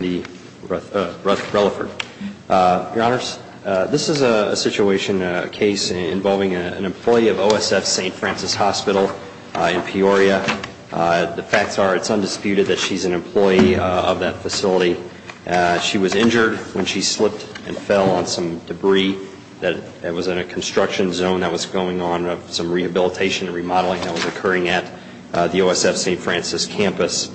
This is a situation, a case involving an employee of OSF St. Francis Hospital in Peoria. The facts are it's undisputed that she's an employee of that facility. She was injured when she slipped and fell on some debris that was in a construction zone that was going on, some rehabilitation and remodeling that was occurring at the OSF St. Francis campus.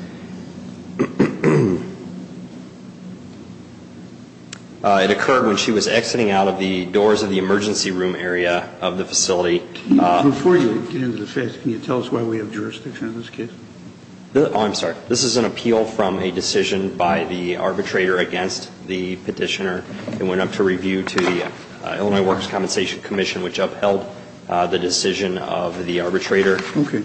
It occurred when she was exiting out of the doors of the emergency room area of the facility. Before you get into the facts, can you tell us why we have jurisdiction on this case? Oh, I'm sorry. This is an appeal from a decision by the arbitrator against the petitioner. It went up to review to the Illinois Workers' Compensation Commission, which upheld the decision of the arbitrator. Okay.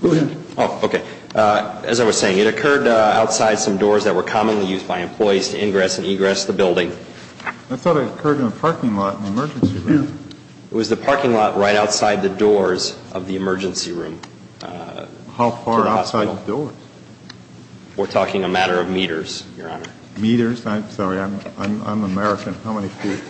Go ahead. Oh, okay. As I was saying, it occurred outside some doors that were commonly used by employees to ingress and egress the building. I thought it occurred in a parking lot in the emergency room. It was the parking lot right outside the doors of the emergency room. How far outside the doors? We're talking a matter of meters, Your Honor. Meters? I'm sorry. I'm American. How many feet?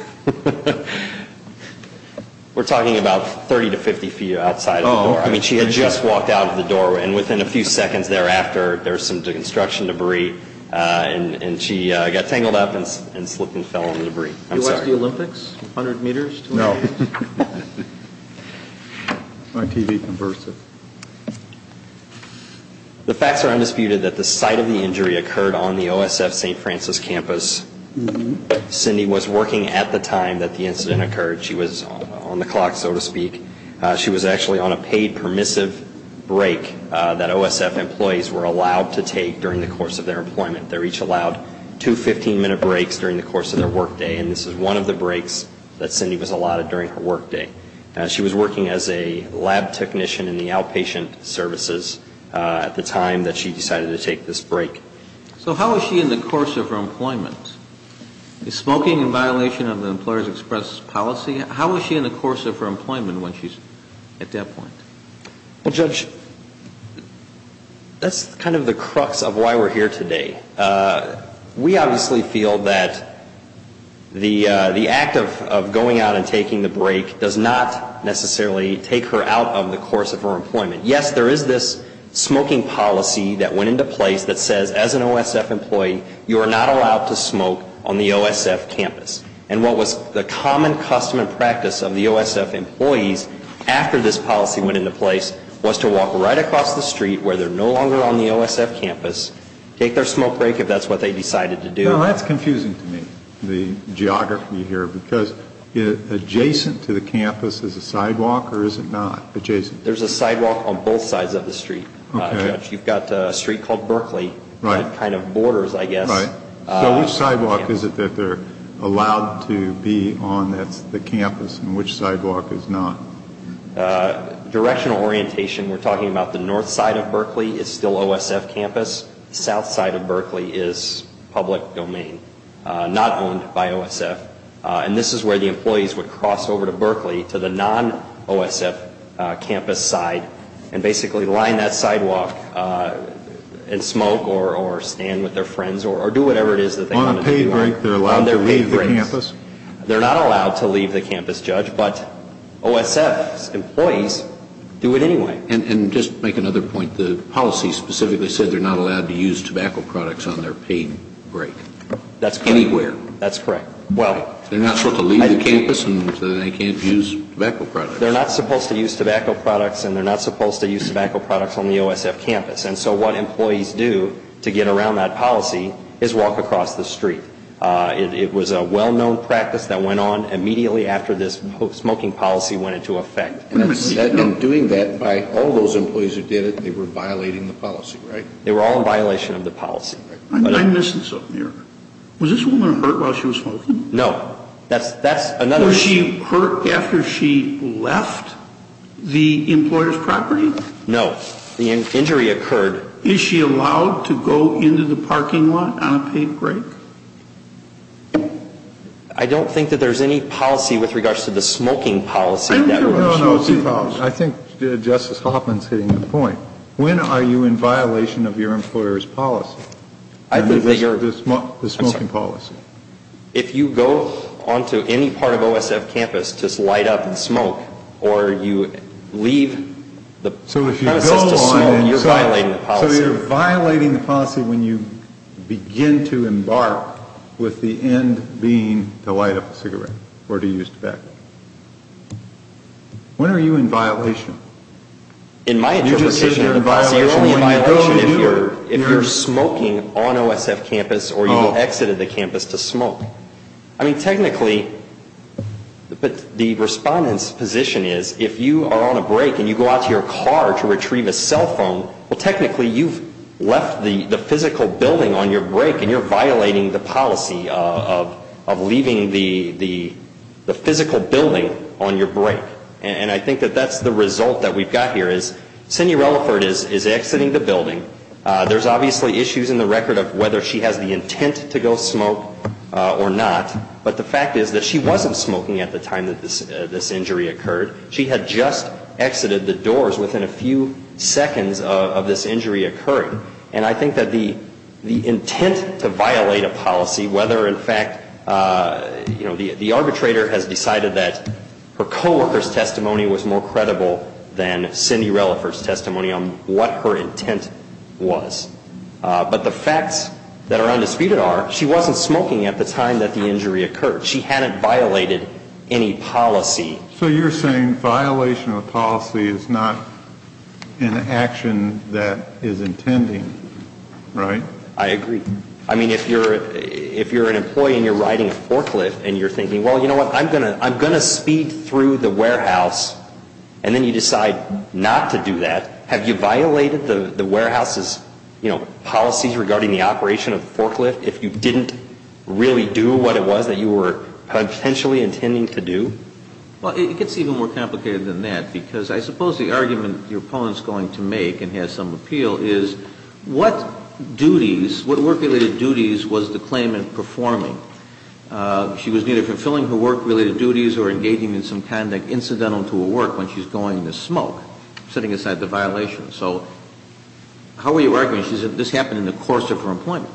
We're talking about 30 to 50 feet outside of the door. I mean, she had just walked out of the door, and within a few seconds thereafter, there was some construction debris, and she got tangled up and slipped and fell in the debris. Did you watch the Olympics? 100 meters? No. My TV converted. The facts are undisputed that the site of the injury occurred on the OSF St. Francis campus. Cindy was working at the time that the incident occurred. She was on the clock, so to speak. She was actually on a paid permissive break that OSF employees were allowed to take during the course of their employment. They were each allowed two 15-minute breaks during the course of their workday, and this is one of the breaks that Cindy was allotted during her workday. She was working as a lab technician in the outpatient services at the time that she decided to take this break. So how was she in the course of her employment? Smoking in violation of the employer's express policy? How was she in the course of her employment when she's at that point? Well, Judge, that's kind of the crux of why we're here today. We obviously feel that the act of going out and taking the break does not necessarily take her out of the course of her employment. Yes, there is this smoking policy that went into place that says as an OSF employee, you are not allowed to smoke on the OSF campus. And what was the common custom and practice of the OSF employees after this policy went into place was to walk right across the street where they're no longer on the OSF campus, take their smoke break if that's what they decided to do. Now, that's confusing to me, the geography here, because adjacent to the campus is a sidewalk or is it not adjacent? There's a sidewalk on both sides of the street, Judge. You've got a street called Berkeley that kind of borders, I guess. So which sidewalk is it that they're allowed to be on that's the campus and which sidewalk is not? Directional orientation, we're talking about the north side of Berkeley is still OSF campus. South side of Berkeley is public domain, not owned by OSF. And this is where the employees would cross over to Berkeley to the non-OSF campus side and basically line that sidewalk and smoke or stand with their friends or do whatever it is that they want to do. On a paid break, they're allowed to leave the campus? They're not allowed to leave the campus, Judge, but OSF employees do it anyway. And just to make another point, the policy specifically said they're not allowed to use tobacco products on their paid break. That's correct. Anywhere. That's correct. They're not supposed to leave the campus and they can't use tobacco products? They're not supposed to use tobacco products and they're not supposed to use tobacco products on the OSF campus. And so what employees do to get around that policy is walk across the street. It was a well-known practice that went on immediately after this smoking policy went into effect. And in doing that, by all those employees who did it, they were violating the policy, right? They were all in violation of the policy. I'm missing something here. Was this woman hurt while she was smoking? No. Was she hurt after she left the employer's property? No. The injury occurred. Is she allowed to go into the parking lot on a paid break? I don't think that there's any policy with regards to the smoking policy. No, no. I think Justice Hoffman's hitting the point. When are you in violation of your employer's policy? I think that you're The smoking policy. If you go onto any part of OSF campus to light up and smoke or you leave the I was just assuming you're violating the policy. So you're violating the policy when you begin to embark with the end being to light up a cigarette or to use tobacco. When are you in violation? In my interpretation of the policy, you're only in violation if you're smoking on OSF campus or you exited the campus to smoke. I mean, technically, the respondent's position is if you are on a break and you go out to your car to retrieve a cell phone, well, technically you've left the physical building on your break and you're violating the policy of leaving the physical building on your break. And I think that that's the result that we've got here is Cindy Relaford is exiting the building. There's obviously issues in the record of whether she has the intent to go smoke or not. But the fact is that she wasn't smoking at the time that this injury occurred. She had just exited the doors within a few seconds of this injury occurring. And I think that the intent to violate a policy, whether in fact, you know, the arbitrator has decided that her co-worker's testimony was more credible than Cindy Relaford's testimony on what her intent was. But the facts that are undisputed are she wasn't smoking at the time that the injury occurred. She hadn't violated any policy. So you're saying violation of a policy is not an action that is intending, right? I agree. I mean, if you're an employee and you're riding a forklift and you're thinking, well, you know what, I'm going to speed through the warehouse and then you decide not to do that, have you violated the warehouse's, you know, policies regarding the operation of the forklift if you didn't really do what it was that you were potentially intending to do? Well, it gets even more complicated than that because I suppose the argument your opponent is going to make and has some appeal is what duties, what work-related duties was the claimant performing? She was neither fulfilling her work-related duties or engaging in some kind of incidental tool work when she's going to smoke, setting aside the violation. So how are you arguing? She said this happened in the course of her employment.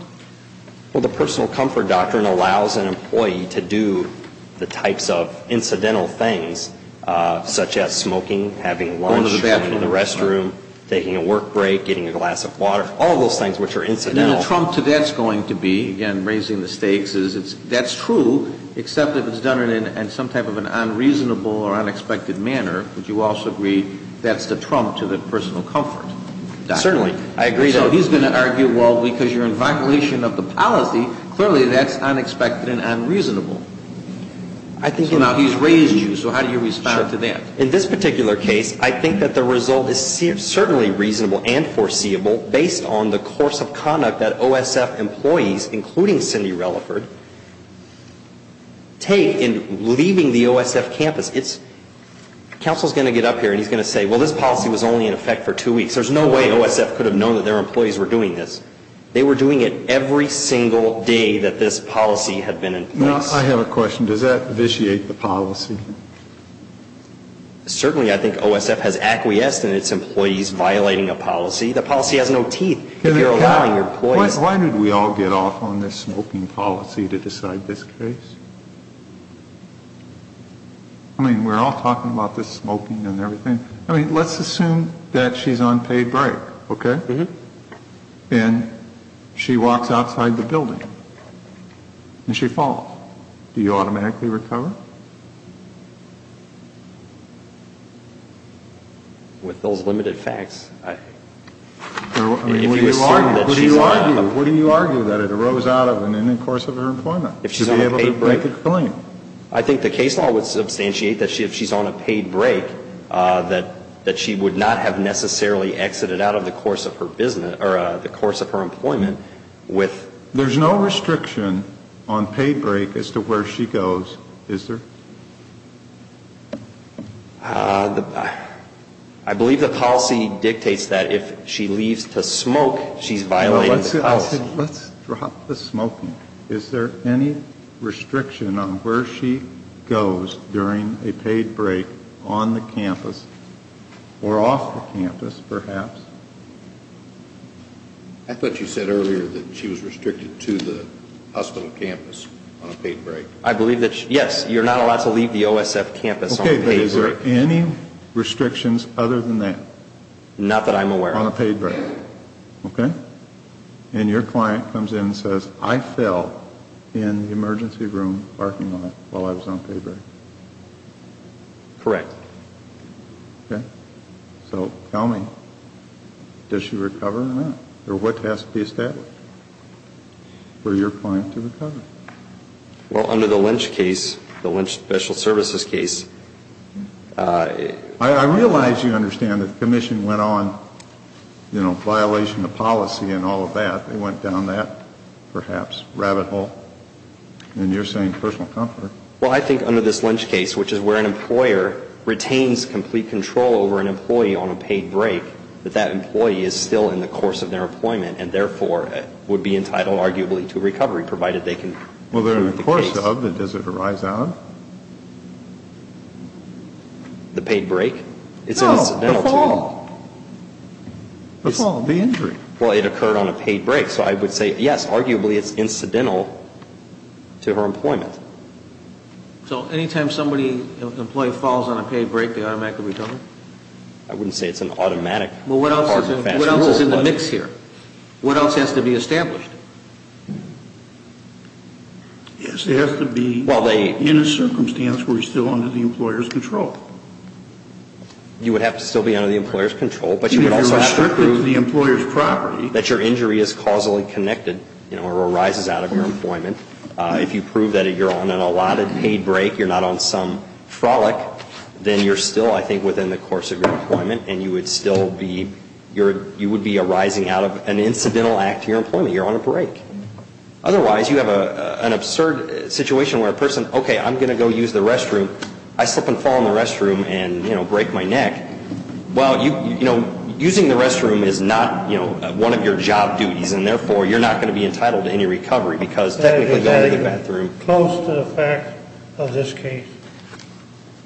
Well, the personal comfort doctrine allows an employee to do the types of incidental things such as smoking, having lunch, going to the restroom, taking a work break, getting a glass of water, all those things which are incidental. And the trump to that's going to be, again, raising the stakes, is that's true, except if it's done in some type of an unreasonable or unexpected manner, would you also agree that's the trump to the personal comfort doctrine? Certainly. I agree, though. So he's going to argue, well, because you're in violation of the policy, clearly that's unexpected and unreasonable. So now he's raised you, so how do you respond to that? In this particular case, I think that the result is certainly reasonable and foreseeable based on the course of conduct that OSF employees, including Cindy Relaford, take in leaving the OSF campus. Counsel's going to get up here and he's going to say, well, this policy was only in effect for two weeks. There's no way OSF could have known that their employees were doing this. They were doing it every single day that this policy had been in place. I have a question. Does that vitiate the policy? Certainly. I think OSF has acquiesced in its employees violating a policy. The policy has no teeth if you're allowing your employees. Why did we all get off on this smoking policy to decide this case? I mean, we're all talking about this smoking and everything. I mean, let's assume that she's on paid break, okay, and she walks outside the building and she falls. Do you automatically recover? With those limited facts, if you assume that she's on a paid break. What do you argue? What do you argue that it arose out of in the course of her employment to be able to make a claim? I think the case law would substantiate that if she's on a paid break, that she would not have necessarily exited out of the course of her employment with. There's no restriction on paid break as to where she goes, is there? I believe the policy dictates that if she leaves to smoke, she's violating the policy. Let's drop the smoking. Is there any restriction on where she goes during a paid break on the campus or off the campus, perhaps? I thought you said earlier that she was restricted to the hospital campus on a paid break. I believe that, yes, you're not allowed to leave the OSF campus on a paid break. Okay, but is there any restrictions other than that? Not that I'm aware of. On a paid break, okay. And your client comes in and says, I fell in the emergency room parking lot while I was on paid break. Correct. Okay. So tell me, does she recover or not? Or what has to be established for your client to recover? Well, under the Lynch case, the Lynch special services case. I realize you understand that the commission went on, you know, violation of policy and all of that. They went down that, perhaps, rabbit hole. And you're saying personal comfort. Well, I think under this Lynch case, which is where an employer retains complete control over an employee on a paid break, that that employee is still in the course of their employment and, therefore, would be entitled, arguably, to recovery, provided they can. Well, they're in the course of, and does it arise out? The paid break? No, the fall. The fall, the injury. Well, it occurred on a paid break. So I would say, yes, arguably, it's incidental to her employment. So any time somebody, an employee, falls on a paid break, they automatically recover? I wouldn't say it's an automatic, hard, fast rule. Well, what else is in the mix here? What else has to be established? Yes, it has to be in a circumstance where you're still under the employer's control. You would have to still be under the employer's control. But you would also have to prove that your injury is causally connected, you know, or arises out of your employment. If you prove that you're on an allotted paid break, you're not on some frolic, then you're still, I think, within the course of your employment, and you would still be arising out of an incidental act to your employment. You're on a break. Otherwise, you have an absurd situation where a person, okay, I'm going to go use the restroom. I slip and fall in the restroom and, you know, break my neck. Well, you know, using the restroom is not, you know, one of your job duties, and therefore you're not going to be entitled to any recovery because technically going to the bathroom. That is very close to the fact of this case.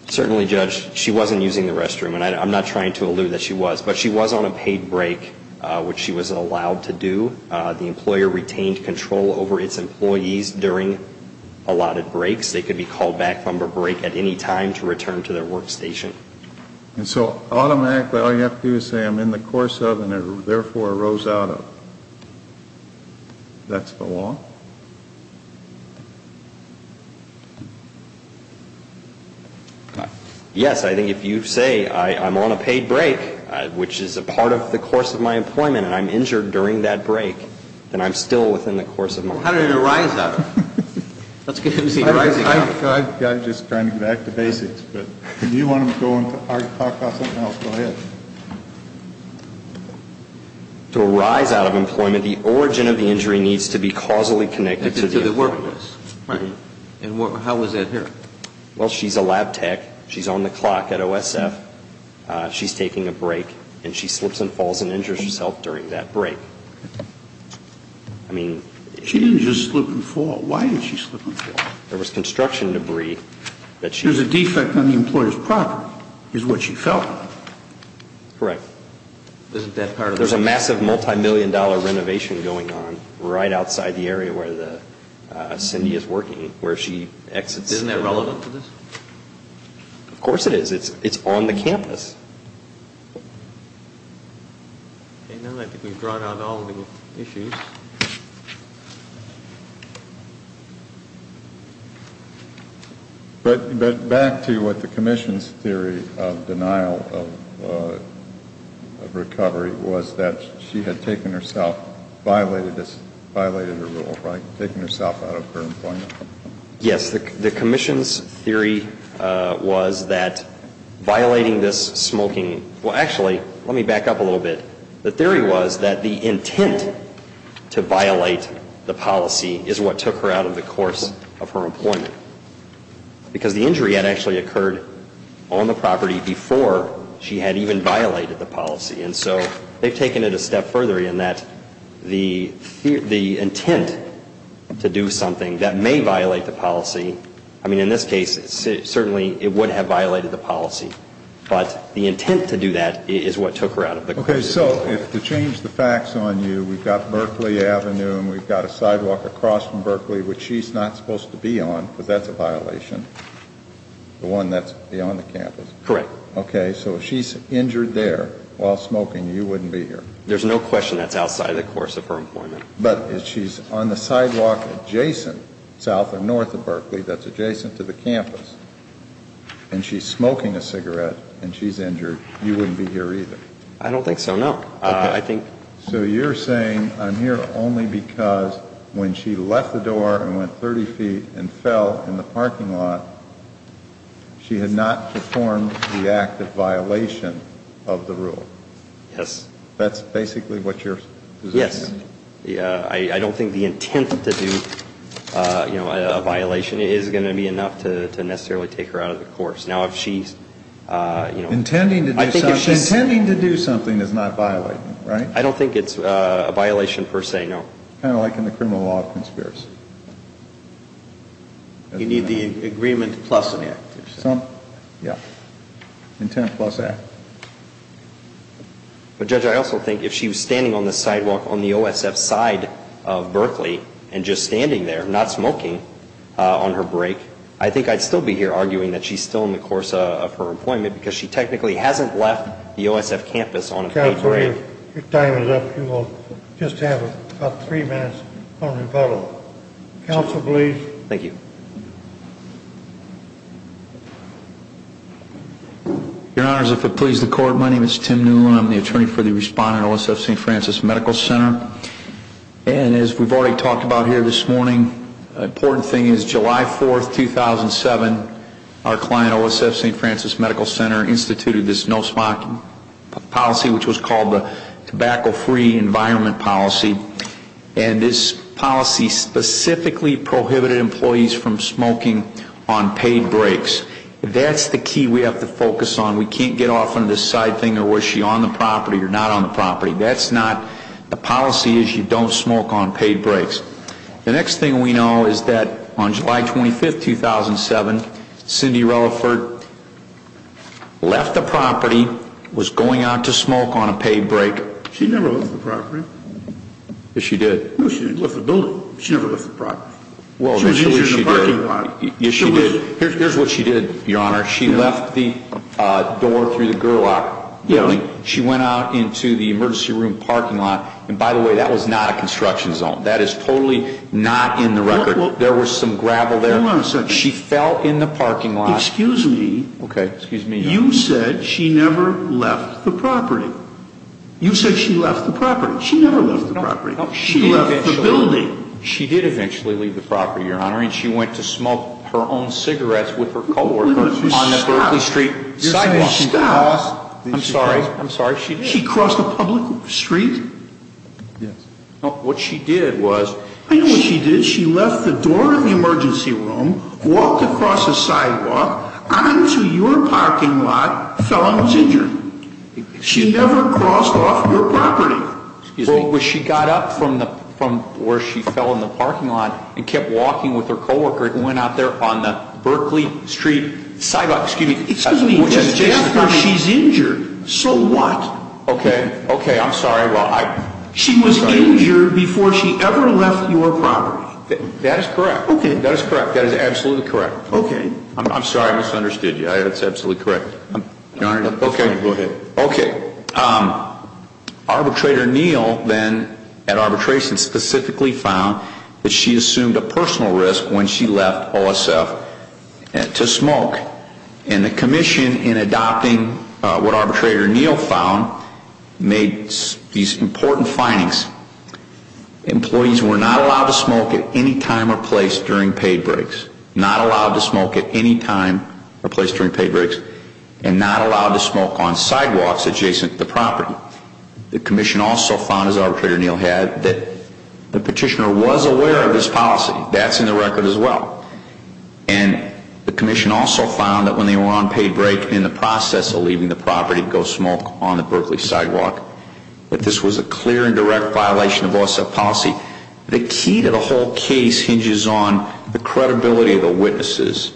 Certainly, Judge. She wasn't using the restroom, and I'm not trying to allude that she was. But she was on a paid break, which she was allowed to do. The employer retained control over its employees during allotted breaks. They could be called back from a break at any time to return to their workstation. And so automatically all you have to do is say I'm in the course of and therefore arose out of. That's the law? Yes. I think if you say I'm on a paid break, which is a part of the course of my employment, and I'm injured during that break, then I'm still within the course of my employment. How did it arise out of? I'm just trying to get back to basics. Do you want to talk about something else? Go ahead. To arise out of employment, the origin of the injury needs to be causally connected to the employment. Right. And how is that here? Well, she's a lab tech. She's on the clock at OSF. She's taking a break, and she slips and falls and injures herself during that break. She didn't just slip and fall. Why did she slip and fall? There was construction debris. There's a defect on the employer's property, is what she felt. Correct. Isn't that part of the reason? There's a massive multi-million dollar renovation going on right outside the area where Cindy is working, where she exits. Isn't that relevant to this? Of course it is. It's on the campus. Okay, now I think we've drawn out all of the issues. But back to what the commission's theory of denial of recovery was, that she had taken herself, violated her rule, right? Taken herself out of her employment. Yes. The commission's theory was that violating this smoking – well, actually, let me back up a little bit. The theory was that the intent to violate the policy is what took her out of the course of her employment. Because the injury had actually occurred on the property before she had even violated the policy. And so they've taken it a step further in that the intent to do something that may violate the policy – I mean, in this case, certainly it would have violated the policy. But the intent to do that is what took her out of the course of her employment. Okay, so to change the facts on you, we've got Berkeley Avenue and we've got a sidewalk across from Berkeley, which she's not supposed to be on, because that's a violation. The one that's beyond the campus. Correct. Okay, so if she's injured there while smoking, you wouldn't be here. There's no question that's outside the course of her employment. But if she's on the sidewalk adjacent, south or north of Berkeley, that's adjacent to the campus, and she's smoking a cigarette and she's injured, you wouldn't be here either. I don't think so, no. Okay. So you're saying I'm here only because when she left the door and went 30 feet and fell in the parking lot, she had not performed the act of violation of the rule? Yes. That's basically what your position is? Yes. I don't think the intent to do a violation is going to be enough to necessarily take her out of the course. Intending to do something is not violating, right? I don't think it's a violation per se, no. Kind of like in the criminal law of conspiracy. You need the agreement plus an act. Yeah. Intent plus act. But Judge, I also think if she was standing on the sidewalk on the OSF side of Berkeley and just standing there not smoking on her break, I think I'd still be here arguing that she's still in the course of her employment because she technically hasn't left the OSF campus on a paid break. Counsel, your time is up. You will just have about three minutes on rebuttal. Counsel, please. Thank you. Your Honors, if it pleases the Court, my name is Tim Newland. I'm the attorney for the respondent at OSF St. Francis Medical Center. And as we've already talked about here this morning, an important thing is July 4th, 2007, our client, OSF St. Francis Medical Center, instituted this no smoking policy, which was called the tobacco-free environment policy. And this policy specifically prohibited employees from smoking on paid breaks. That's the key we have to focus on. We can't get off on this side thing of was she on the property or not on the property. That's not the policy is you don't smoke on paid breaks. The next thing we know is that on July 25th, 2007, Cindy Relaford left the property, was going out to smoke on a paid break. She never left the property. Yes, she did. No, she didn't leave the building. She never left the property. She was injured in the parking lot. Yes, she did. Here's what she did, Your Honor. She left the door through the girlock building. She went out into the emergency room parking lot. And by the way, that was not a construction zone. That is totally not in the record. There was some gravel there. Hold on a second. She fell in the parking lot. Excuse me. Okay, excuse me. You said she never left the property. You said she left the property. She never left the property. She left the building. She did eventually leave the property, Your Honor. And she went to smoke her own cigarettes with her co-workers on the Berkeley Street sidewalk. Stop. I'm sorry. I'm sorry. She did. She crossed a public street? Yes. No, what she did was. I know what she did. She left the door of the emergency room, walked across the sidewalk, onto your parking lot, fell and was injured. She never crossed off your property. Excuse me. Well, she got up from where she fell in the parking lot and kept walking with her co-worker and went out there on the Berkeley Street sidewalk. Excuse me. Just after she's injured. So what? Okay. Okay. I'm sorry. She was injured before she ever left your property. That is correct. Okay. That is correct. That is absolutely correct. Okay. I'm sorry I misunderstood you. That's absolutely correct. Okay. Go ahead. Okay. Arbitrator Neal then at arbitration specifically found that she assumed a personal risk when she left OSF to smoke. And the commission in adopting what Arbitrator Neal found made these important findings. Employees were not allowed to smoke at any time or place during paid breaks. Not allowed to smoke at any time or place during paid breaks. And not allowed to smoke on sidewalks adjacent to the property. The commission also found, as Arbitrator Neal had, that the petitioner was aware of this policy. That's in the record as well. And the commission also found that when they were on paid break in the process of leaving the property to go smoke on the Berkeley sidewalk, that this was a clear and direct violation of OSF policy. The key to the whole case hinges on the credibility of the witnesses.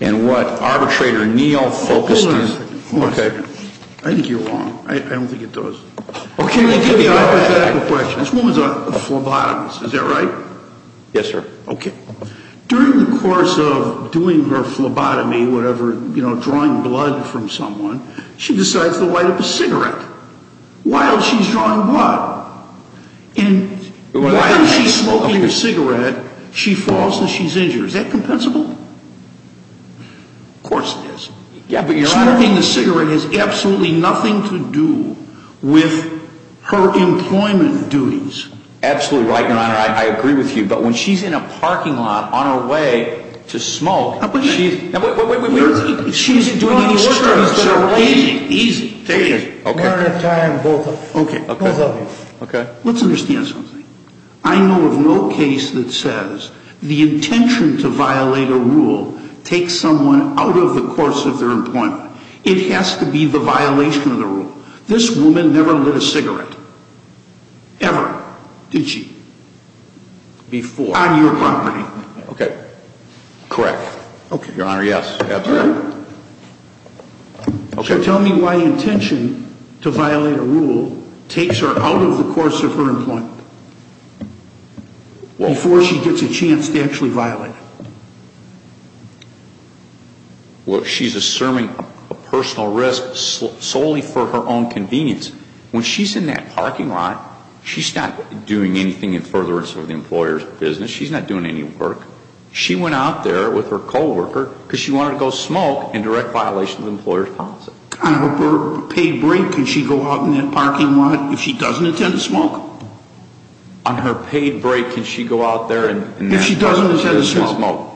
And what Arbitrator Neal focused on. Hold on a second. Okay. I think you're wrong. I don't think it does. Okay. Let me give you a hypothetical question. This woman's a phlebotomist. Is that right? Yes, sir. Okay. During the course of doing her phlebotomy, whatever, you know, drawing blood from someone, she decides to light up a cigarette. While she's drawing what? While she's smoking a cigarette, she falls and she's injured. Is that compensable? Of course it is. Yeah, but your Honor. Smoking a cigarette has absolutely nothing to do with her employment duties. Absolutely right, your Honor. I agree with you. But when she's in a parking lot on her way to smoke, she's doing these things that are easy, easy, easy. One at a time, both of you. Okay. Both of you. Okay. Let's understand something. I know of no case that says the intention to violate a rule takes someone out of the course of their employment. It has to be the violation of the rule. This woman never lit a cigarette, ever, did she? Before. On your property. Okay. Correct. Okay. Your Honor, yes. Absolutely. Okay. So tell me why the intention to violate a rule takes her out of the course of her employment before she gets a chance to actually violate it. Well, she's assuming a personal risk solely for her own convenience. When she's in that parking lot, she's not doing anything in furtherance of the employer's business. She's not doing any work. She went out there with her co-worker because she wanted to go smoke in direct violation of the employer's policy. On her paid break, can she go out in that parking lot if she doesn't intend to smoke? On her paid break, can she go out there in that parking lot if she doesn't intend to smoke?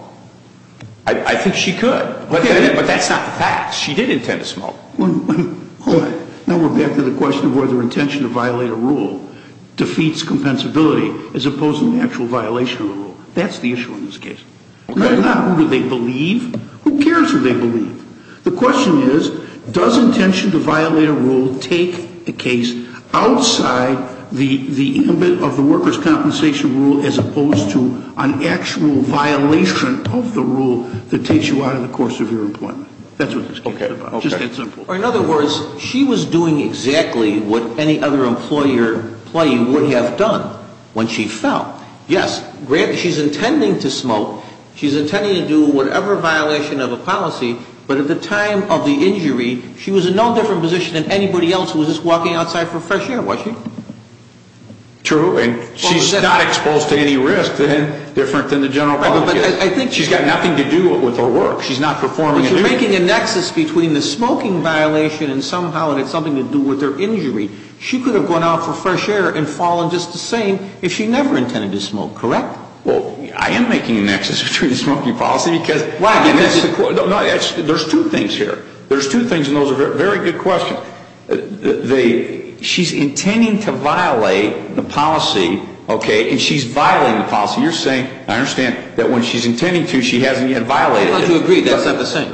I think she could. But that's not the fact. She did intend to smoke. Now we're back to the question of whether intention to violate a rule defeats compensability as opposed to an actual violation of the rule. That's the issue in this case. Not who do they believe. Who cares who they believe? The question is, does intention to violate a rule take the case outside the limit of the worker's compensation rule as opposed to an actual violation of the rule that takes you out of the course of your employment? That's what this case is about. In other words, she was doing exactly what any other employer employee would have done when she fell. Yes, she's intending to smoke. She's intending to do whatever violation of a policy. But at the time of the injury, she was in no different position than anybody else who was just walking outside for fresh air, was she? True. And she's not exposed to any risk different than the general public is. She's got nothing to do with her work. She's not performing a duty. She's making a nexus between the smoking violation and somehow it had something to do with her injury. She could have gone out for fresh air and fallen just the same if she never intended to smoke, correct? Well, I am making a nexus between the smoking policy because there's two things here. There's two things, and those are very good questions. She's intending to violate the policy, okay, and she's violating the policy. You're saying, I understand, that when she's intending to, she hasn't yet violated it. I'm glad you agree that's not the same.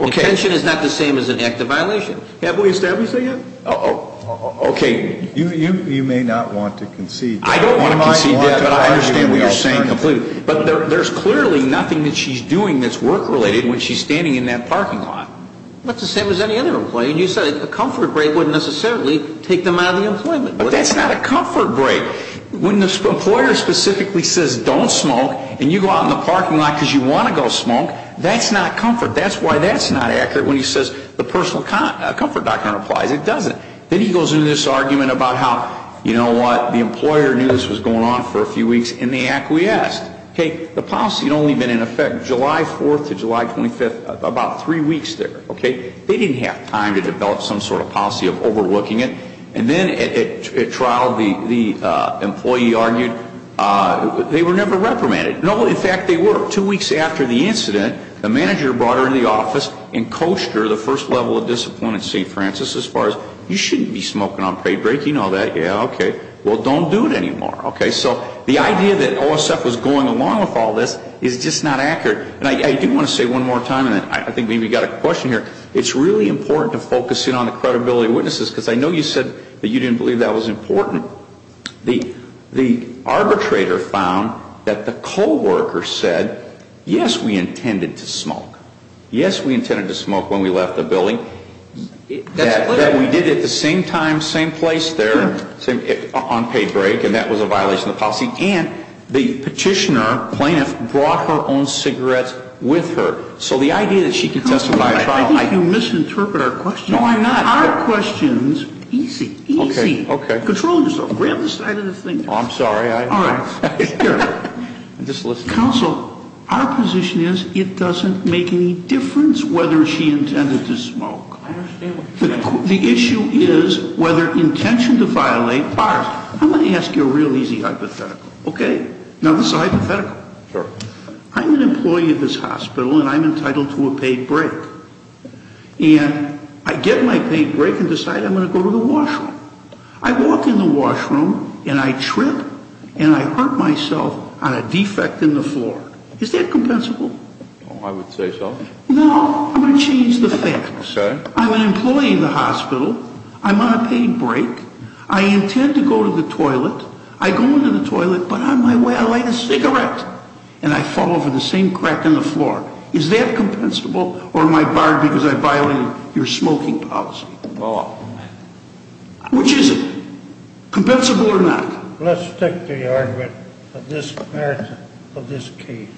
Intention is not the same as an active violation. Have we established that yet? Okay. You may not want to concede. I don't want to concede that, but I understand what you're saying completely. But there's clearly nothing that she's doing that's work-related when she's standing in that parking lot. Well, it's the same as any other employee. And you said a comfort break wouldn't necessarily take them out of the employment. But that's not a comfort break. When the employer specifically says, don't smoke, and you go out in the parking lot because you want to go smoke, that's not comfort. That's why that's not accurate when he says the personal comfort doctrine applies. It doesn't. Then he goes into this argument about how, you know what, the employer knew this was going on for a few weeks, and they acquiesced. Okay. The policy had only been in effect July 4th to July 25th, about three weeks there, okay? They didn't have time to develop some sort of policy of overlooking it. And then at trial, the employee argued they were never reprimanded. No, in fact, they were. Two weeks after the incident, the manager brought her into the office and coached her the first level of discipline at St. Francis as far as, you shouldn't be smoking on pay break, you know that. Yeah, okay. Well, don't do it anymore. Okay. So the idea that OSF was going along with all this is just not accurate. And I do want to say one more time, and I think maybe you've got a question here. It's really important to focus in on the credibility of witnesses, because I know you said that you didn't believe that was important. The arbitrator found that the co-worker said, yes, we intended to smoke. Yes, we intended to smoke when we left the building. That's clear. That we did it at the same time, same place there on pay break, and that was a violation of the policy. And the petitioner, plaintiff, brought her own cigarettes with her. So the idea that she can testify at trial, I think you misinterpret our question. No, I'm not. Our question is easy, easy. Okay, okay. Control yourself. Grab the side of the thing. I'm sorry. All right. Counsel, our position is it doesn't make any difference whether she intended to smoke. I understand what you're saying. The issue is whether intention to violate. I'm going to ask you a real easy hypothetical. Okay? Now, this is a hypothetical. Sure. I'm an employee of this hospital, and I'm entitled to a paid break. And I get my paid break and decide I'm going to go to the washroom. I walk in the washroom, and I trip, and I hurt myself on a defect in the floor. Is that compensable? I would say so. No, I'm going to change the facts. Okay. I'm an employee in the hospital. I'm on a paid break. I intend to go to the toilet. I go into the toilet, but on my way I light a cigarette. And I fall over the same crack in the floor. Is that compensable? Or am I barred because I violated your smoking policy? No. Which is it? Compensable or not? Let's stick to the argument of this case,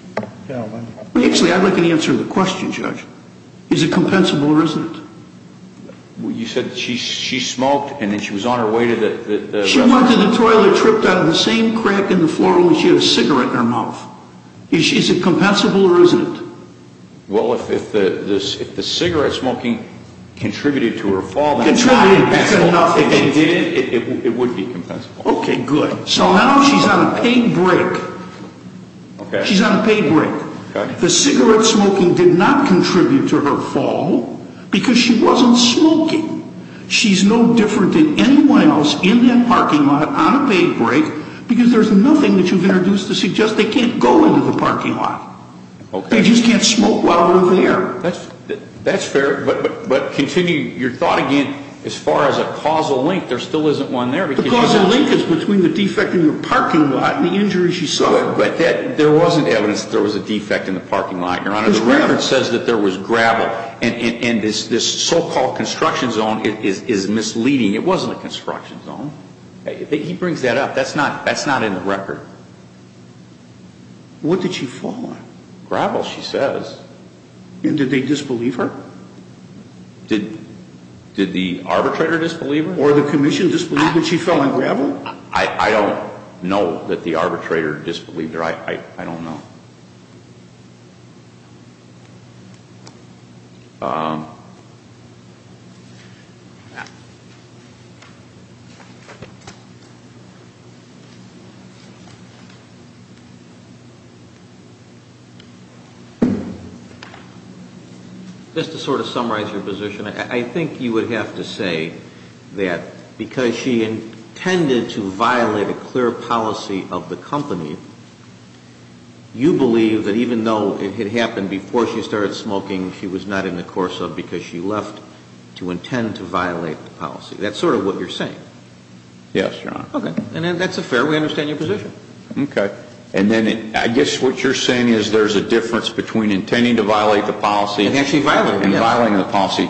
gentlemen. Actually, I'd like an answer to the question, Judge. Is it compensable or isn't it? You said she smoked, and then she was on her way to the bathroom. She probably tripped out of the same crack in the floor when she had a cigarette in her mouth. Is it compensable or isn't it? Well, if the cigarette smoking contributed to her fall, then it's not compensable. If it did, it would be compensable. Okay, good. So now she's on a paid break. She's on a paid break. The cigarette smoking did not contribute to her fall because she wasn't smoking. She's no different than anyone else in that parking lot on a paid break because there's nothing that you've introduced to suggest they can't go into the parking lot. Okay. They just can't smoke while they're there. That's fair. But continue your thought again. As far as a causal link, there still isn't one there. The causal link is between the defect in the parking lot and the injuries she suffered. But there wasn't evidence that there was a defect in the parking lot, Your Honor. There's not. And this so-called construction zone is misleading. It wasn't a construction zone. He brings that up. That's not in the record. What did she fall on? Gravel, she says. And did they disbelieve her? Did the arbitrator disbelieve her? Or the commission disbelieved that she fell on gravel? I don't know that the arbitrator disbelieved her. I don't know. Just to sort of summarize your position, I think you would have to say that because she intended to violate a clear policy of the company, you believe that even though it had happened before she started smoking, she was not in the course of because she left to intend to violate the policy. That's sort of what you're saying. Yes, Your Honor. Okay. And that's fair. We understand your position. Okay. And then I guess what you're saying is there's a difference between intending to violate the policy and violating the policy.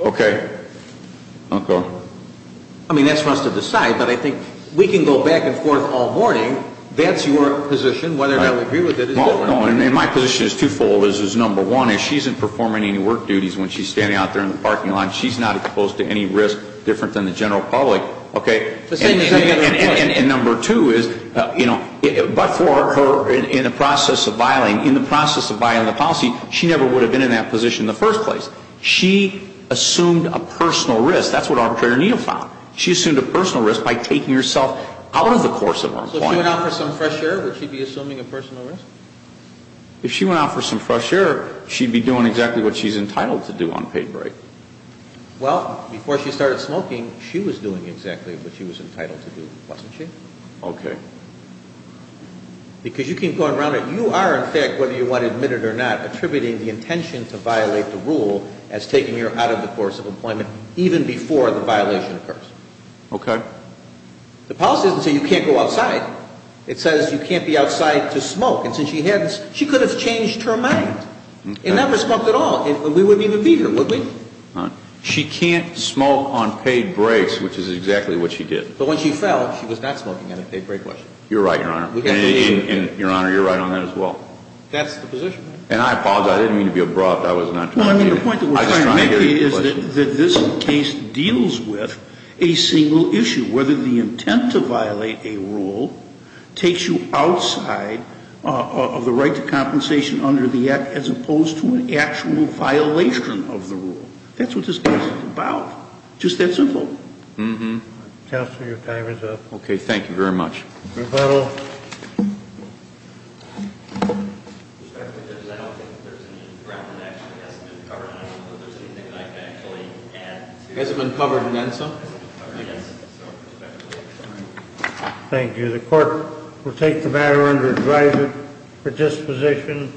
Okay. Okay. I mean, that's for us to decide. But I think we can go back and forth all morning. That's your position, whether or not we agree with it. No, no. And my position is twofold. Number one is she isn't performing any work duties when she's standing out there in the parking lot. She's not exposed to any risk different than the general public. Okay. And number two is, you know, but for her in the process of violating the policy, she never would have been in that position in the first place. She assumed a personal risk. That's what Arbitrator Neal found. She assumed a personal risk by taking herself out of the course of her employment. So if she went out for some fresh air, would she be assuming a personal risk? If she went out for some fresh air, she'd be doing exactly what she's entitled to do on paid break. Well, before she started smoking, she was doing exactly what she was entitled to do, wasn't she? Okay. Because you keep going around it. Okay. The policy doesn't say you can't go outside. It says you can't be outside to smoke. And since she had this, she could have changed her mind and never smoked at all. And we wouldn't even be here, would we? She can't smoke on paid breaks, which is exactly what she did. But when she fell, she was not smoking on a paid break, was she? You're right, Your Honor. And, Your Honor, you're right on that as well. That's the position. And I apologize. I didn't mean to be abrupt. I was not trying to get into it. Well, I mean, the point that we're trying to make here is that this case deals with a single issue, whether the intent to violate a rule takes you outside of the right to compensation under the Act as opposed to an actual violation of the rule. That's what this case is about. Just that simple. Counsel, your time is up. Okay. Thank you very much. Rebuttal. Thank you. The court will take the matter under advisory for disposition.